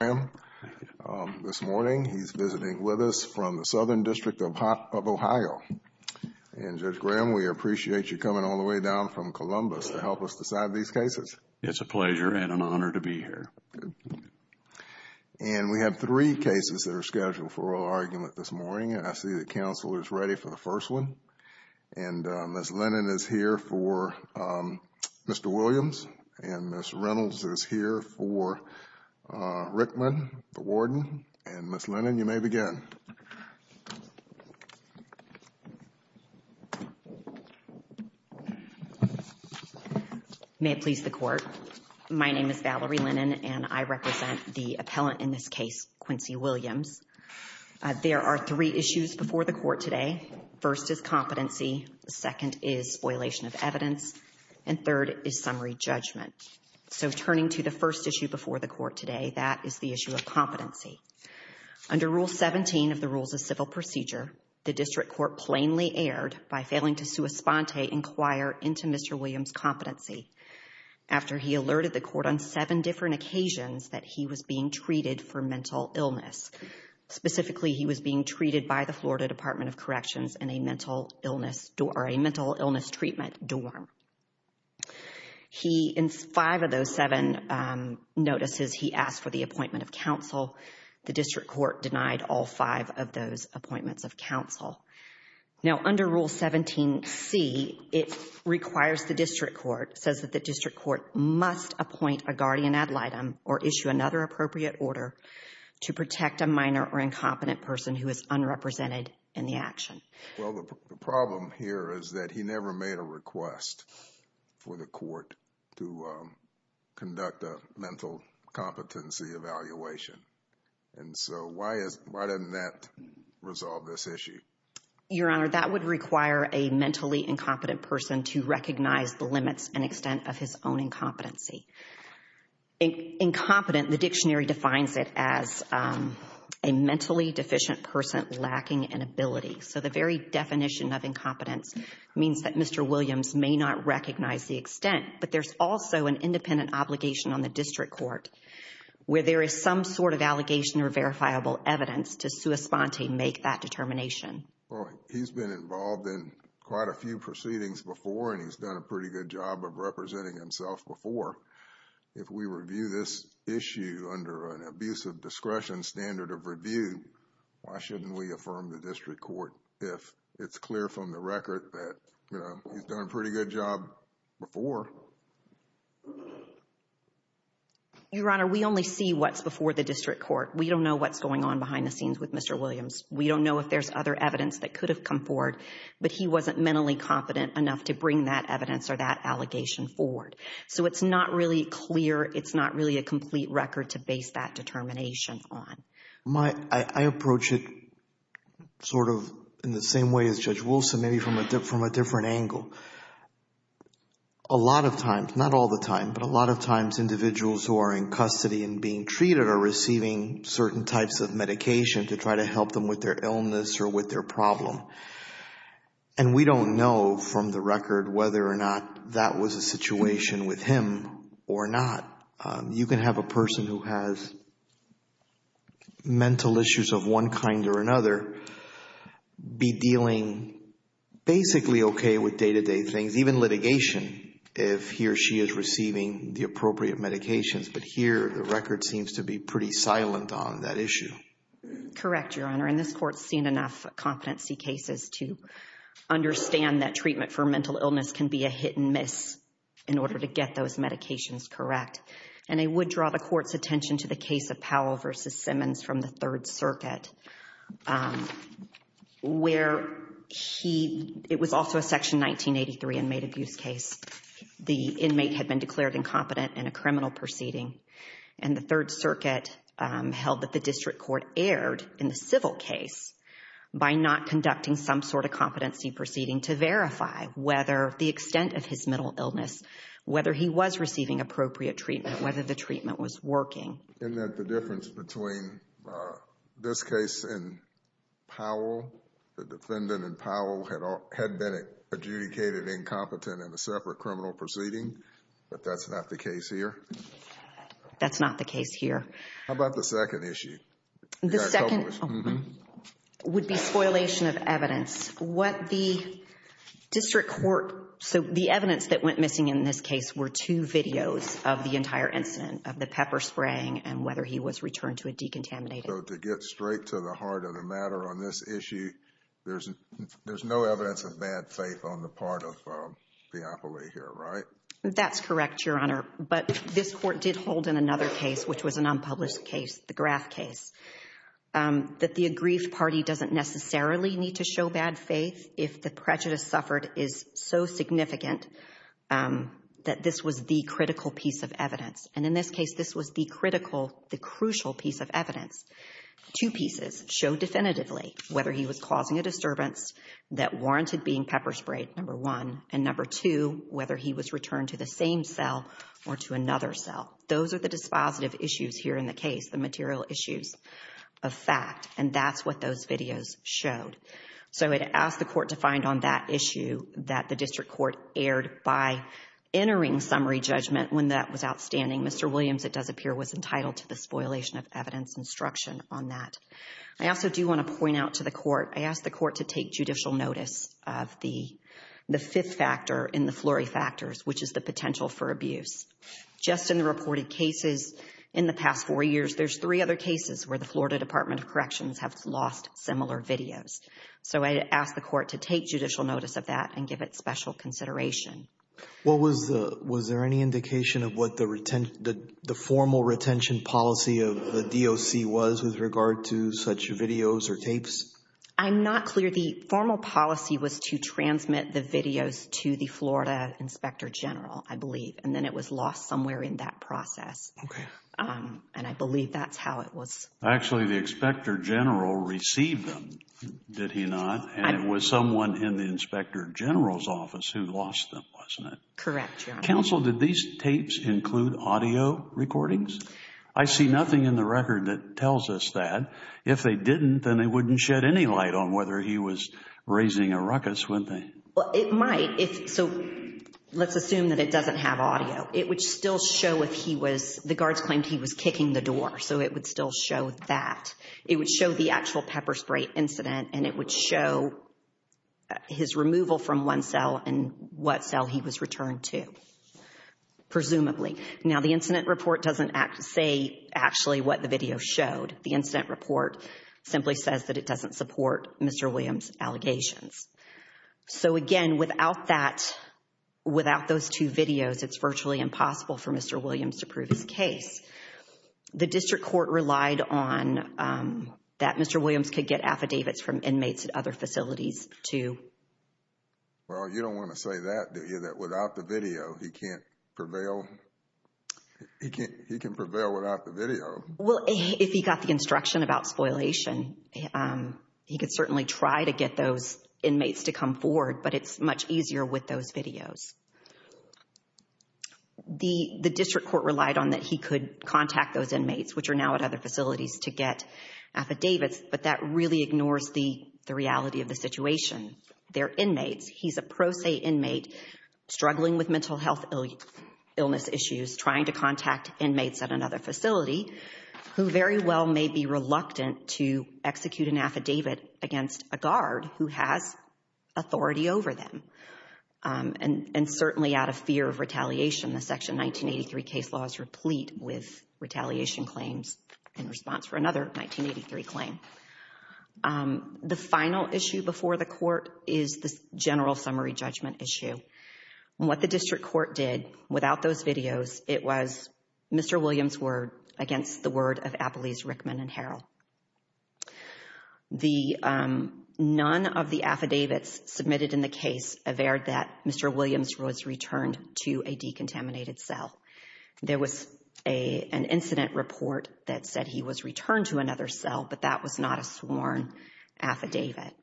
and Judge Graham this morning. He's visiting with us from the Southern District of Ohio. And Judge Graham, we appreciate you coming all the way down from Columbus to help us decide these cases. It's a pleasure and an honor to be here. And we have three cases that are scheduled for oral argument this morning, and I see that counsel is ready for the first one. And Ms. Lennon is here for Mr. Williams, and Ms. Reynolds is here for Rickman, the warden. And Ms. Lennon, you may begin. May it please the Court. My name is Valerie Lennon, and I represent the appellant in this case, Quincy Williams. There are three issues before the Court today. First is competency, second is spoilation of evidence, and third is summary judgment. So turning to the first issue before the Court today, that is the issue of competency. Under Rule 17 of the Rules of Civil Procedure, the District Court plainly erred by failing to sua sponte inquire into Mr. Williams' competency after he alerted the Court on seven different occasions that he was being treated for mental illness. Specifically, he was being treated by Florida Department of Corrections in a mental illness treatment dorm. He, in five of those seven notices, he asked for the appointment of counsel. The District Court denied all five of those appointments of counsel. Now, under Rule 17c, it requires the District Court, says that the District Court must appoint a guardian ad litem or issue another appropriate order to protect a minor or incompetent person who is unrepresented in the action. Well, the problem here is that he never made a request for the Court to conduct a mental competency evaluation. And so why doesn't that resolve this issue? Your Honor, that would require a mentally incompetent person to recognize the limits and extent of his own incompetency. Incompetent, the dictionary defines it as a mentally deficient person lacking in ability. So the very definition of incompetence means that Mr. Williams may not recognize the extent, but there's also an independent obligation on the District Court where there is some sort of allegation or verifiable evidence to sua sponte make that determination. Well, he's been involved in quite a few proceedings before and he's done pretty good job of representing himself before. If we review this issue under an abusive discretion standard of review, why shouldn't we affirm the District Court if it's clear from the record that he's done a pretty good job before? Your Honor, we only see what's before the District Court. We don't know what's going on behind the scenes with Mr. Williams. We don't know if there's other evidence that could have come forward, but he wasn't mentally competent enough to bring that evidence or that allegation forward. So it's not really clear, it's not really a complete record to base that determination on. I approach it sort of in the same way as Judge Wilson, maybe from a different angle. A lot of times, not all the time, but a lot of times individuals who are in custody and being treated are receiving certain types of medication to try to help them with their illness or with their problem. And we don't know from the record whether or not that was a situation with him or not. You can have a person who has mental issues of one kind or another be dealing basically okay with day-to-day things, even litigation, if he or she is receiving the appropriate medications. But here, the record seems to be pretty silent on that issue. Correct, Your Honor. And this Court's seen enough competency cases to understand that treatment for mental illness can be a hit and miss in order to get those medications correct. And I would draw the Court's attention to the case of Powell v. Simmons from the Third Circuit, where he, it was also a Section 1983 inmate abuse case. The inmate had been declared incompetent in a criminal proceeding. And the Third Circuit held that the District Court erred in the civil case by not conducting some sort of competency proceeding to verify whether the extent of his mental illness, whether he was receiving appropriate treatment, whether the treatment was working. Isn't that the difference between this case and Powell? The defendant in Powell had been adjudicated incompetent in a separate criminal proceeding, but that's not the case here. That's not the case here. How about the second issue? The second would be spoilation of evidence. What the District Court, so the evidence that went missing in this case were two videos of the entire incident, of the pepper spraying and whether he was returned to a decontaminated. So to get straight to the heart of the matter on this issue, there's no evidence of bad faith on the part of the appellee here, right? That's correct, Your Honor. But this Court did hold in another case, which was an unpublished case, the Graff case, that the aggrieved party doesn't necessarily need to show bad faith if the prejudice suffered is so significant that this was the critical piece of evidence. And in this case, this was the critical, the crucial piece of evidence. Two pieces show definitively whether he was causing a disturbance that warranted being pepper sprayed, number one, and number two, whether he was returned to the same cell or to another cell. Those are the dispositive issues here in the case, the material issues of fact, and that's what those videos showed. So I would ask the Court to find on that issue that the District Court erred by entering summary judgment when that was outstanding. Mr. Williams, it does appear, was entitled to the spoilation of evidence instruction on that. I also do want to point out to the Court, I asked the Court to take judicial notice of the fifth factor in the flurry factors, which is the potential for abuse. Just in the reported cases in the past four years, there's three other cases where the Florida Department of Corrections have lost similar videos. So I ask the Court to take judicial notice of that and give it special consideration. Well, was there any indication of what the formal retention policy of the DOC was with regard to such videos or tapes? I'm not clear. The formal policy was to transmit the videos to the Florida Inspector General, I believe, and then it was lost somewhere in that process, and I believe that's how it was. Actually, the Inspector General received them, did he not? And it was someone in the Inspector General's office who lost them, wasn't it? Correct, Your Honor. Counsel, did these tapes include audio recordings? I see nothing in the record that tells us that. If they didn't, then they wouldn't shed any light on whether he was raising a ruckus, wouldn't they? Well, it might. So let's assume that it doesn't have audio. It would still show if he was, the guards claimed he was kicking the door, so it would still show that. It would show the actual pepper spray incident, and it would show his removal from one cell and what cell he was returned to, presumably. Now, the incident report doesn't say actually what the video showed. The incident report simply says that it doesn't support Mr. Williams' allegations. So again, without that, without those two videos, it's virtually impossible for Mr. Williams to prove his case. The district court relied on that Mr. Williams could get affidavits from inmates at other facilities to... Well, you don't want to say that, do you? That without the video, he can't prevail. He can prevail without the video. Well, if he got the instruction about spoilation, he could certainly try to get those inmates to come forward, but it's much easier with those videos. The district court relied on that he could contact those inmates, which are now at other facilities, to get affidavits, but that really ignores the reality of the situation. They're inmates. He's a pro se inmate, struggling with mental health illness issues, trying to contact who very well may be reluctant to execute an affidavit against a guard who has authority over them. And certainly out of fear of retaliation, the Section 1983 case law is replete with retaliation claims in response for another 1983 claim. The final issue before the court is the general summary judgment issue. What the district court did without those videos, it was Mr. Williams' word against the word of Appalese Rickman and Harrell. None of the affidavits submitted in the case averred that Mr. Williams was returned to a decontaminated cell. There was an incident report that said he was returned to another cell, but that was not a sworn affidavit.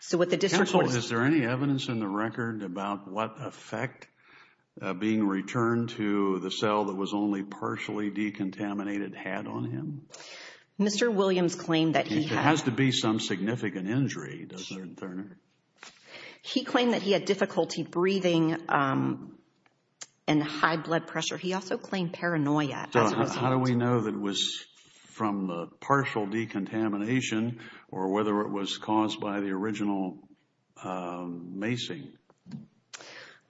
So what the district court... Counsel, is there any evidence in the record about what effect being returned to the cell that was only partially decontaminated had on him? Mr. Williams claimed that he had... There has to be some significant injury, doesn't there, Turner? He claimed that he had difficulty breathing and high blood pressure. He also claimed paranoia. How do we know that was from the partial decontamination, or whether it was caused by the original macing?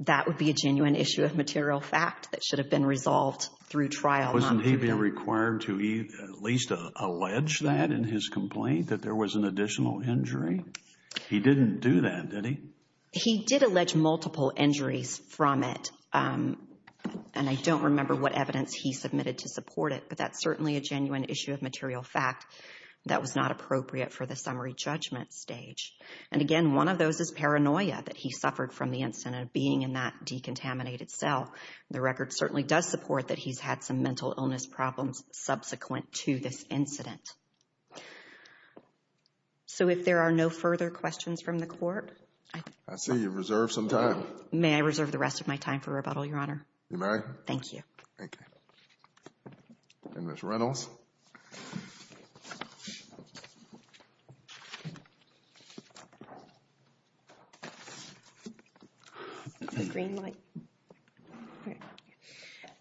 That would be a genuine issue of material fact that should have been resolved through trial. Wasn't he being required to at least allege that in his complaint, that there was an additional injury? He didn't do that, did he? He did allege multiple injuries from it, and I don't remember what evidence he submitted to support it, but that's certainly a genuine issue of material fact that was not appropriate for the summary judgment stage. And again, one of those is paranoia that he suffered from the incident of being in that decontaminated cell. The record certainly does support that he's had some mental illness problems subsequent to this incident. So, if there are no further questions from the court... I see you've reserved some time. May I reserve the rest of my time for rebuttal, Your Honor? You may. Thank you. Thank you. And Ms. Reynolds.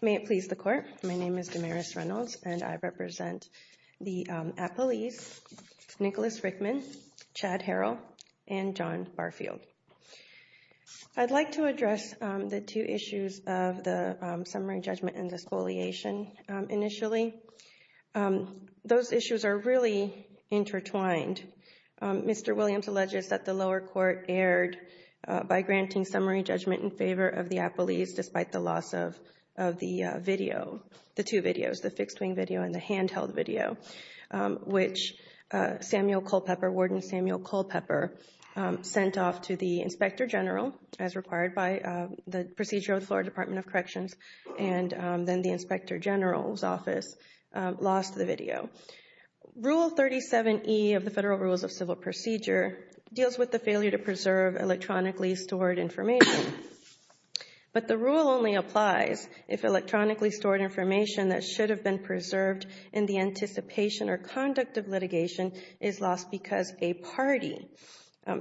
May it please the court. My name is Damaris Reynolds, and I represent the appellees Nicholas Rickman, Chad Harrell, and John Barfield. I'd like to address the two issues of the summary judgment and disqualification initially. Those issues are really intertwined. Mr. Williams alleges that the lower court erred by granting summary judgment in favor of the appellees despite the loss of the video, the two videos, the fixed-wing video and the handheld video. Which Samuel Culpepper, Warden Samuel Culpepper, sent off to the Inspector General, as required by the procedure of the Florida Department of Corrections, and then the Inspector General's office, lost the video. Rule 37E of the Federal Rules of Civil Procedure deals with the failure to preserve electronically stored information. But the rule only applies if electronically stored information that should have been preserved in the anticipation or conduct of litigation is lost because a party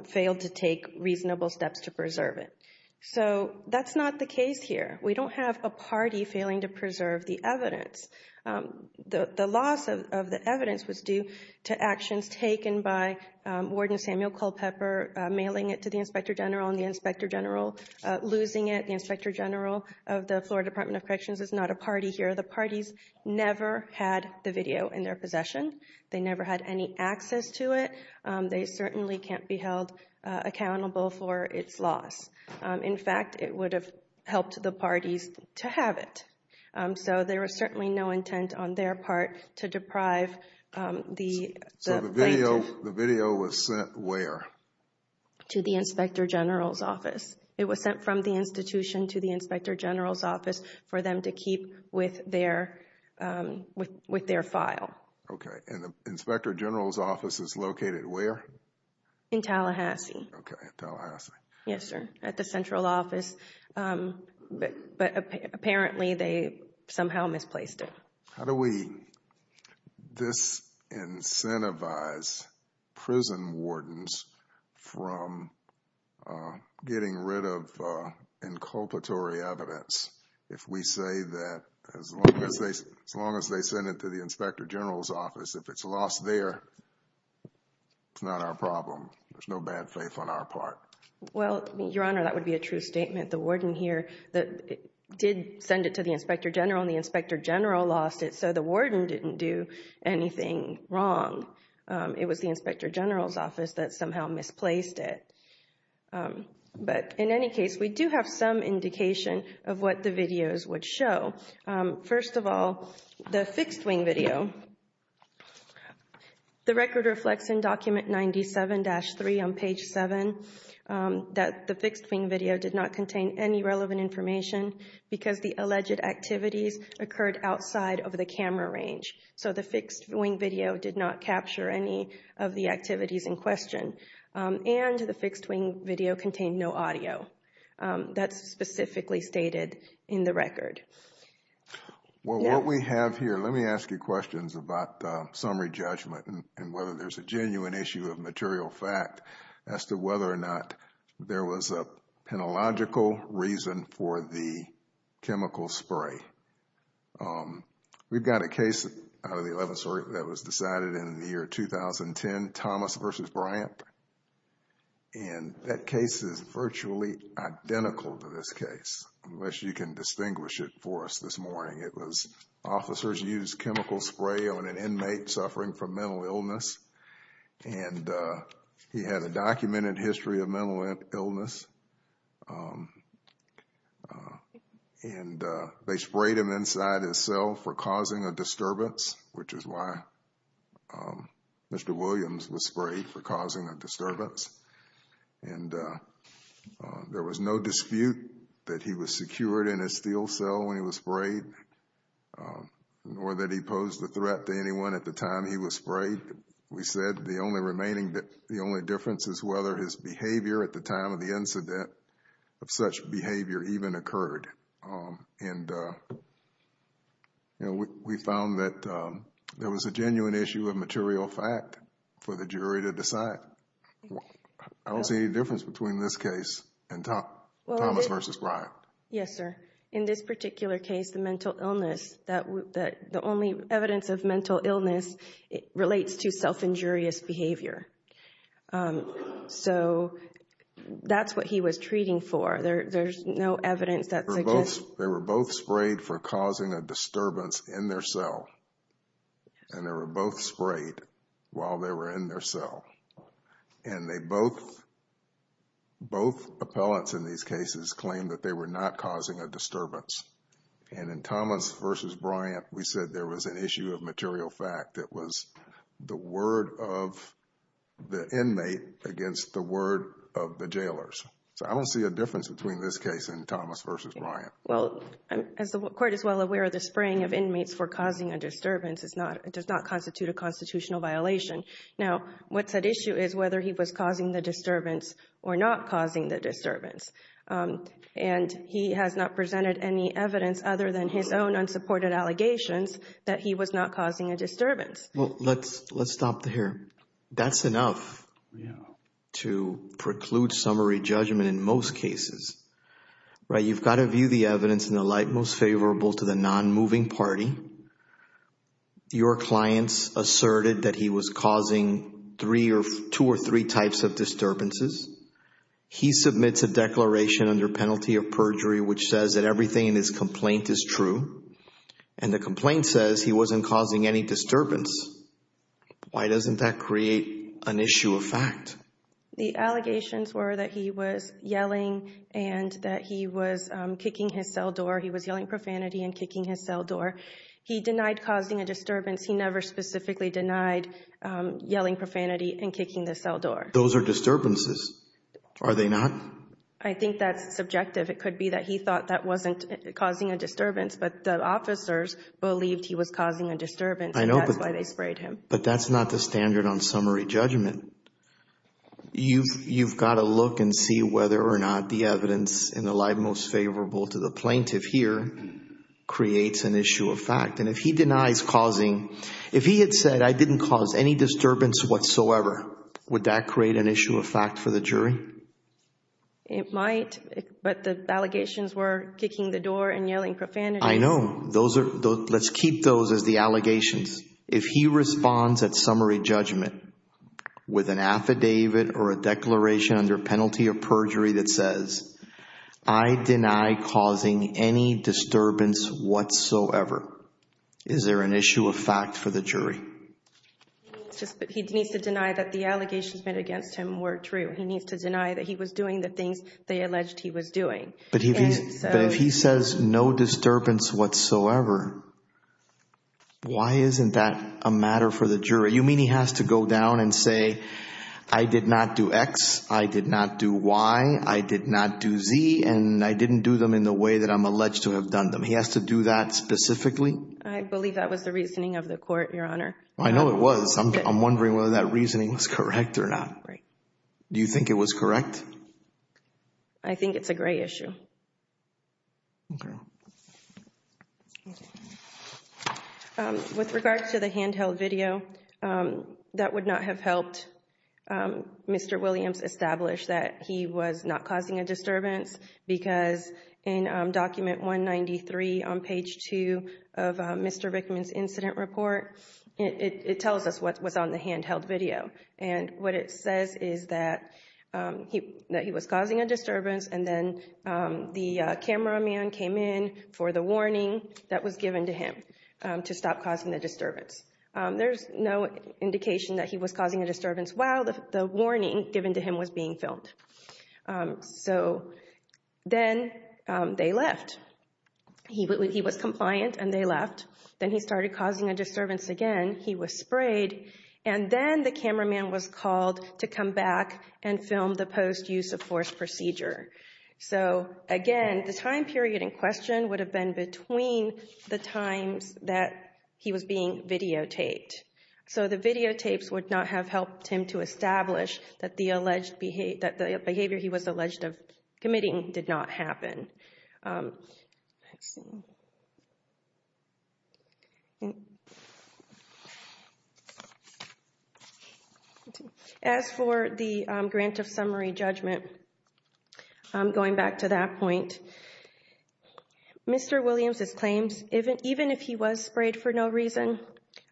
failed to take reasonable steps to preserve it. So that's not the case here. We don't have a party failing to preserve the evidence. The loss of the evidence was due to actions taken by Warden Samuel Culpepper, mailing it to the Inspector General, and the Inspector General losing it. The Inspector General of the Florida Department of Corrections is not a party here. The parties never had the video in their possession. They never had any access to it. They certainly can't be held accountable for its loss. In fact, it would have helped the parties to have it. So there was certainly no intent on their part to deprive the plaintiff. So the video was sent where? To the Inspector General's office. It was sent from the institution to the Inspector General's for them to keep with their file. Okay. And the Inspector General's office is located where? In Tallahassee. Okay. In Tallahassee. Yes, sir. At the central office. But apparently they somehow misplaced it. How do we disincentivize prison wardens from getting rid of inculpatory evidence if we say that as long as they send it to the Inspector General's office, if it's lost there, it's not our problem. There's no bad faith on our part. Well, Your Honor, that would be a true statement. The warden here did send it to the Inspector General and the Inspector General lost it. So the warden didn't do anything wrong. It was the Inspector General's office that somehow misplaced it. But in any case, we do have some indication of what the videos would show. First of all, the fixed-wing video. The record reflects in document 97-3 on page 7 that the fixed-wing video did not contain any relevant information because the alleged activities occurred outside of the camera range. So the fixed-wing video did not capture any of the activities in question. And the fixed-wing video contained no audio. That's specifically stated in the record. Well, what we have here, let me ask you questions about summary judgment and whether there's a genuine issue of material fact as to whether or not there was a penological reason for the chemical spray. We've got a case out of the 11th Circuit that was decided in the year 2010, Thomas v. Bryant. And that case is virtually identical to this case, unless you can distinguish it for us this morning. It was officers used chemical spray on an inmate suffering from mental illness. And he had a documented history of mental illness. And they sprayed him inside his cell for Mr. Williams was sprayed for causing a disturbance. And there was no dispute that he was secured in a steel cell when he was sprayed, nor that he posed a threat to anyone at the time he was sprayed. We said the only remaining, the only difference is whether his behavior at the time of the incident of such behavior even occurred. And we found that there was a genuine issue of material fact for the jury to decide. I don't see any difference between this case and Thomas v. Bryant. Yes, sir. In this particular case, the mental illness, the only evidence of mental illness relates to self-injurious behavior. So that's what he was treating for. There's no evidence they were both sprayed for causing a disturbance in their cell. And they were both sprayed while they were in their cell. And they both, both appellants in these cases claim that they were not causing a disturbance. And in Thomas v. Bryant, we said there was an issue of material fact that was the word of the inmate against the word of the jailers. So I don't see a difference between this case and Thomas v. Bryant. Well, as the Court is well aware, the spraying of inmates for causing a disturbance is not, does not constitute a constitutional violation. Now, what's at issue is whether he was causing the disturbance or not causing the disturbance. And he has not presented any evidence other than his own unsupported allegations that he was not causing a disturbance. Well, let's stop there. That's enough to preclude summary judgment in most cases, right? You've got to view the evidence in the light most favorable to the non-moving party. Your clients asserted that he was causing three or two or three types of disturbances. He submits a declaration under penalty of perjury, which says that everything in his complaint is true. And the complaint says he wasn't causing any disturbance. Why doesn't that create an issue of fact? The allegations were that he was yelling and that he was kicking his cell door. He was yelling profanity and kicking his cell door. He denied causing a disturbance. He never specifically denied yelling profanity and kicking the cell door. Those are disturbances, are they not? I think that's subjective. It could be that he thought that wasn't causing a disturbance, but the officers believed he was causing a disturbance. I know, but that's not the standard on summary judgment. You've got to look and see whether or not the evidence in the light most favorable to the plaintiff here creates an issue of fact. And if he denies causing, if he had said I didn't cause any disturbance whatsoever, would that create an issue of fact for the jury? It might, but the allegations were kicking the door and if he responds at summary judgment with an affidavit or a declaration under penalty of perjury that says I deny causing any disturbance whatsoever, is there an issue of fact for the jury? He needs to deny that the allegations made against him were true. He needs to deny that he was doing the things they alleged he was doing. But if he says no disturbance whatsoever, why isn't that a matter for the jury? You mean he has to go down and say I did not do X, I did not do Y, I did not do Z, and I didn't do them in the way that I'm alleged to have done them. He has to do that specifically? I believe that was the reasoning of the court, Your Honor. I know it was. I'm wondering whether that reasoning was correct or not. Do you think it was correct? I think it's a gray issue. With regards to the handheld video, that would not have helped Mr. Williams establish that he was not causing a disturbance because in document 193 on page 2 of Mr. Vickman's incident report, it tells us what was on the handheld video. And what it says is that he was causing a disturbance and then the cameraman came in for the warning that was given to him to stop causing the disturbance. There's no indication that he was causing a disturbance while the warning given to him was being filmed. So then they left. He was compliant and they left. Then he started causing a disturbance again. He was sprayed. And then the cameraman was called to come back and film the post-use-of-force procedure. So again, the time period in question would have been between the times that he was being videotaped. So the videotapes would not have helped him to establish that the behavior he was alleged of committing did not happen. As for the grant of summary judgment, going back to that point, Mr. Williams' claims, even if he was sprayed for no reason,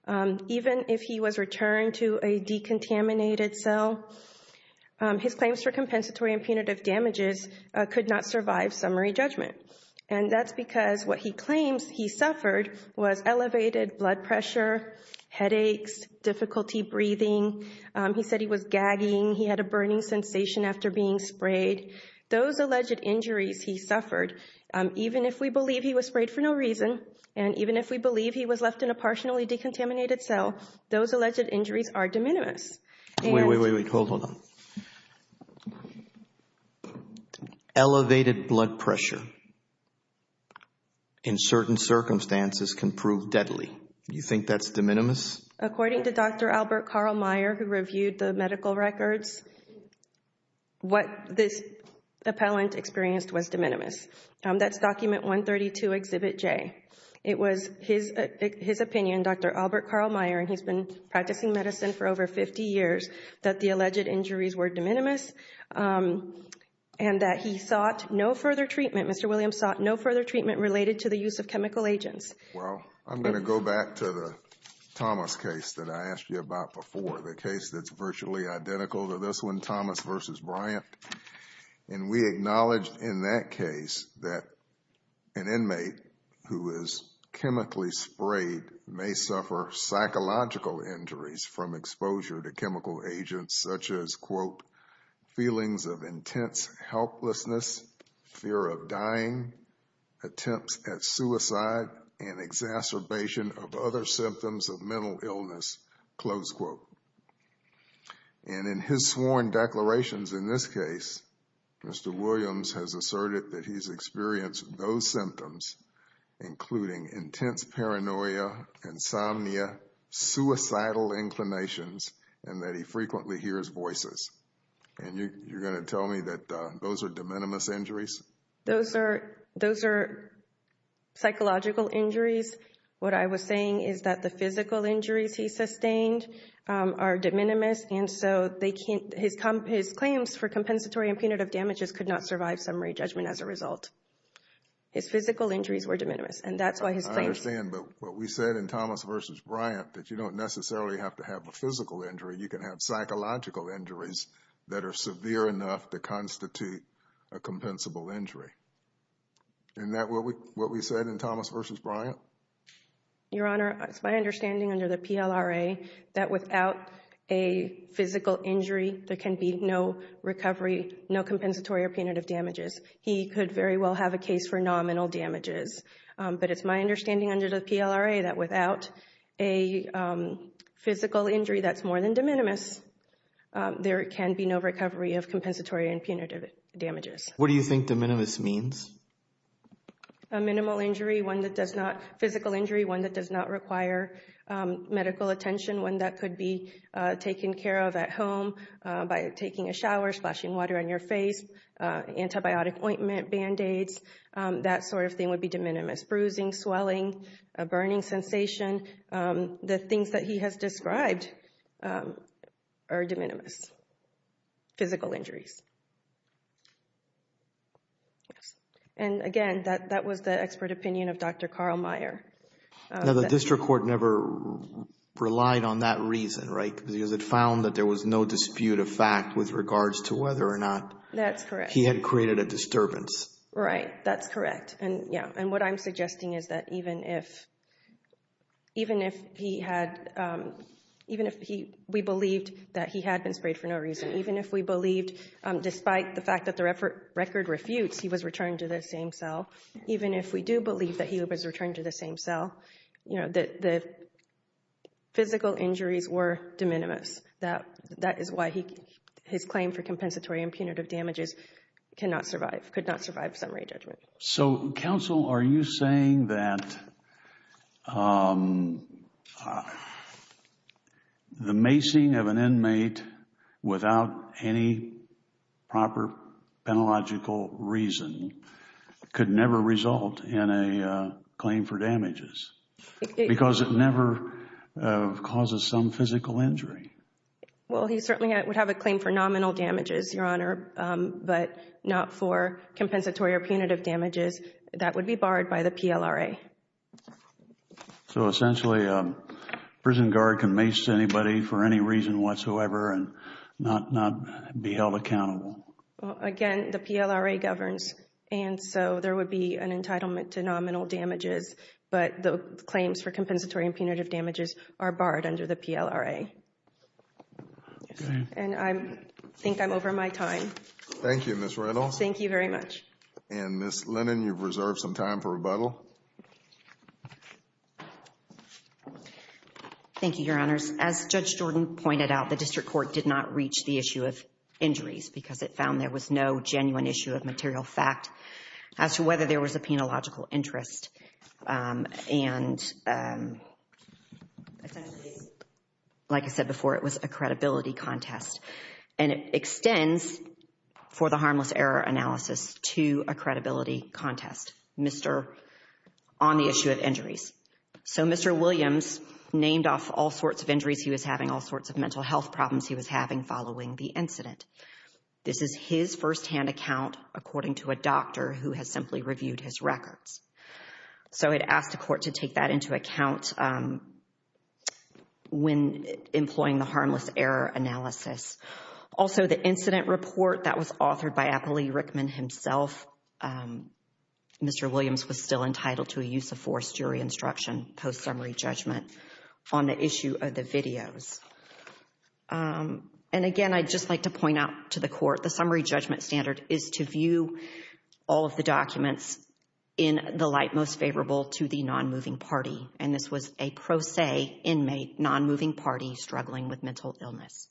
even if he was returned to a decontaminated cell, his claims for compensatory and punitive damages could not survive summary judgment. And that's because what he claims he suffered was elevated blood pressure, headaches, difficulty breathing. He said he was gagging. He had a burning sensation after being sprayed. Those alleged injuries he suffered, even if we believe he was sprayed for no reason, and even if we believe he was left in a partially decontaminated cell, those alleged injuries are de minimis. Wait, wait, wait. Hold on. Elevated blood pressure in certain circumstances can prove deadly. You think that's de minimis? According to Dr. Albert Carl Meyer, who reviewed the medical records, what this appellant experienced was de minimis. That's document 132, exhibit J. It was his opinion, Dr. Albert Carl Meyer, and he's been practicing medicine for over 50 years, that the alleged injuries were de minimis and that he sought no further treatment. Mr. Williams sought no further treatment related to the use of chemical agents. Well, I'm going to go back to the Thomas case that I asked you about before, the case that's virtually identical to this one, Thomas versus Bryant. And we acknowledged in that case that an inmate who is chemically sprayed may suffer psychological injuries from exposure to chemical agents such as, quote, feelings of intense helplessness, fear of dying, attempts at suicide, and exacerbation of other symptoms of mental illness, close quote. And in his sworn declarations in this case, Mr. Williams has asserted that he's experienced those symptoms, including intense paranoia, insomnia, suicidal inclinations, and that he frequently hears voices. And you're going to tell me that those are de minimis injuries? Those are psychological injuries. What I was saying is that the physical injuries he sustained are de minimis. And so his claims for compensatory and punitive damages could not survive summary judgment as a result. His physical injuries were de minimis. And that's why his claims... I understand. But what we said in Thomas versus Bryant that you don't necessarily have to have a physical injury. You can have psychological injuries that are severe enough to constitute a compensable injury. Isn't that what we said in Thomas versus Bryant? Your Honor, it's my understanding under the PLRA that without a physical injury, there can be no recovery, no compensatory or punitive damages. He could very well have a case for nominal damages. But it's my understanding under the PLRA that without a physical injury that's more than de minimis, there can be no recovery of compensatory and punitive damages. What do you think de minimis means? A minimal injury, one that does not... Physical injury, one that does not require medical attention, one that could be taken care of at home by taking a shower, splashing water on your face, antibiotic ointment, Band-Aids. That sort of thing would be de minimis. Bruising, swelling, a burning sensation. The things that he has described are de minimis physical injuries. And again, that was the expert opinion of Dr. Carl Meyer. Now, the district court never relied on that reason, right? Because it found that there was no dispute of fact with regards to whether or not he had created a disturbance. Right. That's correct. And what I'm suggesting is that even if we believed that he had been sprayed for no reason, even if we believed despite the fact the record refutes he was returned to the same cell, even if we do believe that he was returned to the same cell, you know, the physical injuries were de minimis. That is why his claim for compensatory and punitive damages cannot survive, could not survive summary judgment. So, counsel, are you saying that the macing of an inmate without any proper penalogical reason could never result in a claim for damages because it never causes some physical injury? Well, he certainly would have a claim for nominal damages, Your Honor, but not for compensatory or punitive damages. That would be barred by the PLRA. So, essentially, a prison guard can mace anybody for any reason whatsoever and not be held accountable? Again, the PLRA governs, and so there would be an entitlement to nominal damages, but the claims for compensatory and punitive damages are barred under the PLRA. Okay. And I think I'm over my time. Thank you, Ms. Reynolds. Thank you very much. And Ms. Lennon, you've reserved some time for rebuttal. Thank you, Your Honors. As Judge Jordan pointed out, the district court did not reach the issue of injuries because it found there was no genuine issue of material fact as to whether there was a credibility contest. And it extends, for the harmless error analysis, to a credibility contest on the issue of injuries. So, Mr. Williams named off all sorts of injuries he was having, all sorts of mental health problems he was having following the incident. This is his firsthand account, according to a doctor who has simply reviewed his records. So, I'd ask the court to take that into account when employing the harmless error analysis. Also, the incident report that was authored by Apolli Rickman himself, Mr. Williams was still entitled to a use of force jury instruction post-summary judgment on the issue of the videos. And again, I'd just like to point out to the court, the summary judgment standard is to view all of the documents in the light most favorable to the non-moving party. And this was a pro se inmate, non-moving party, struggling with mental illness.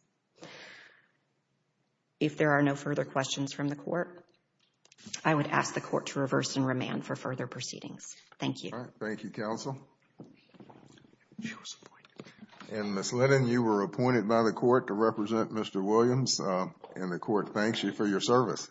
If there are no further questions from the court, I would ask the court to reverse and remand for further proceedings. Thank you. All right. Thank you, counsel. And Ms. Lennon, you were appointed by the court to represent Mr. Williams. And the court thanks you for your service.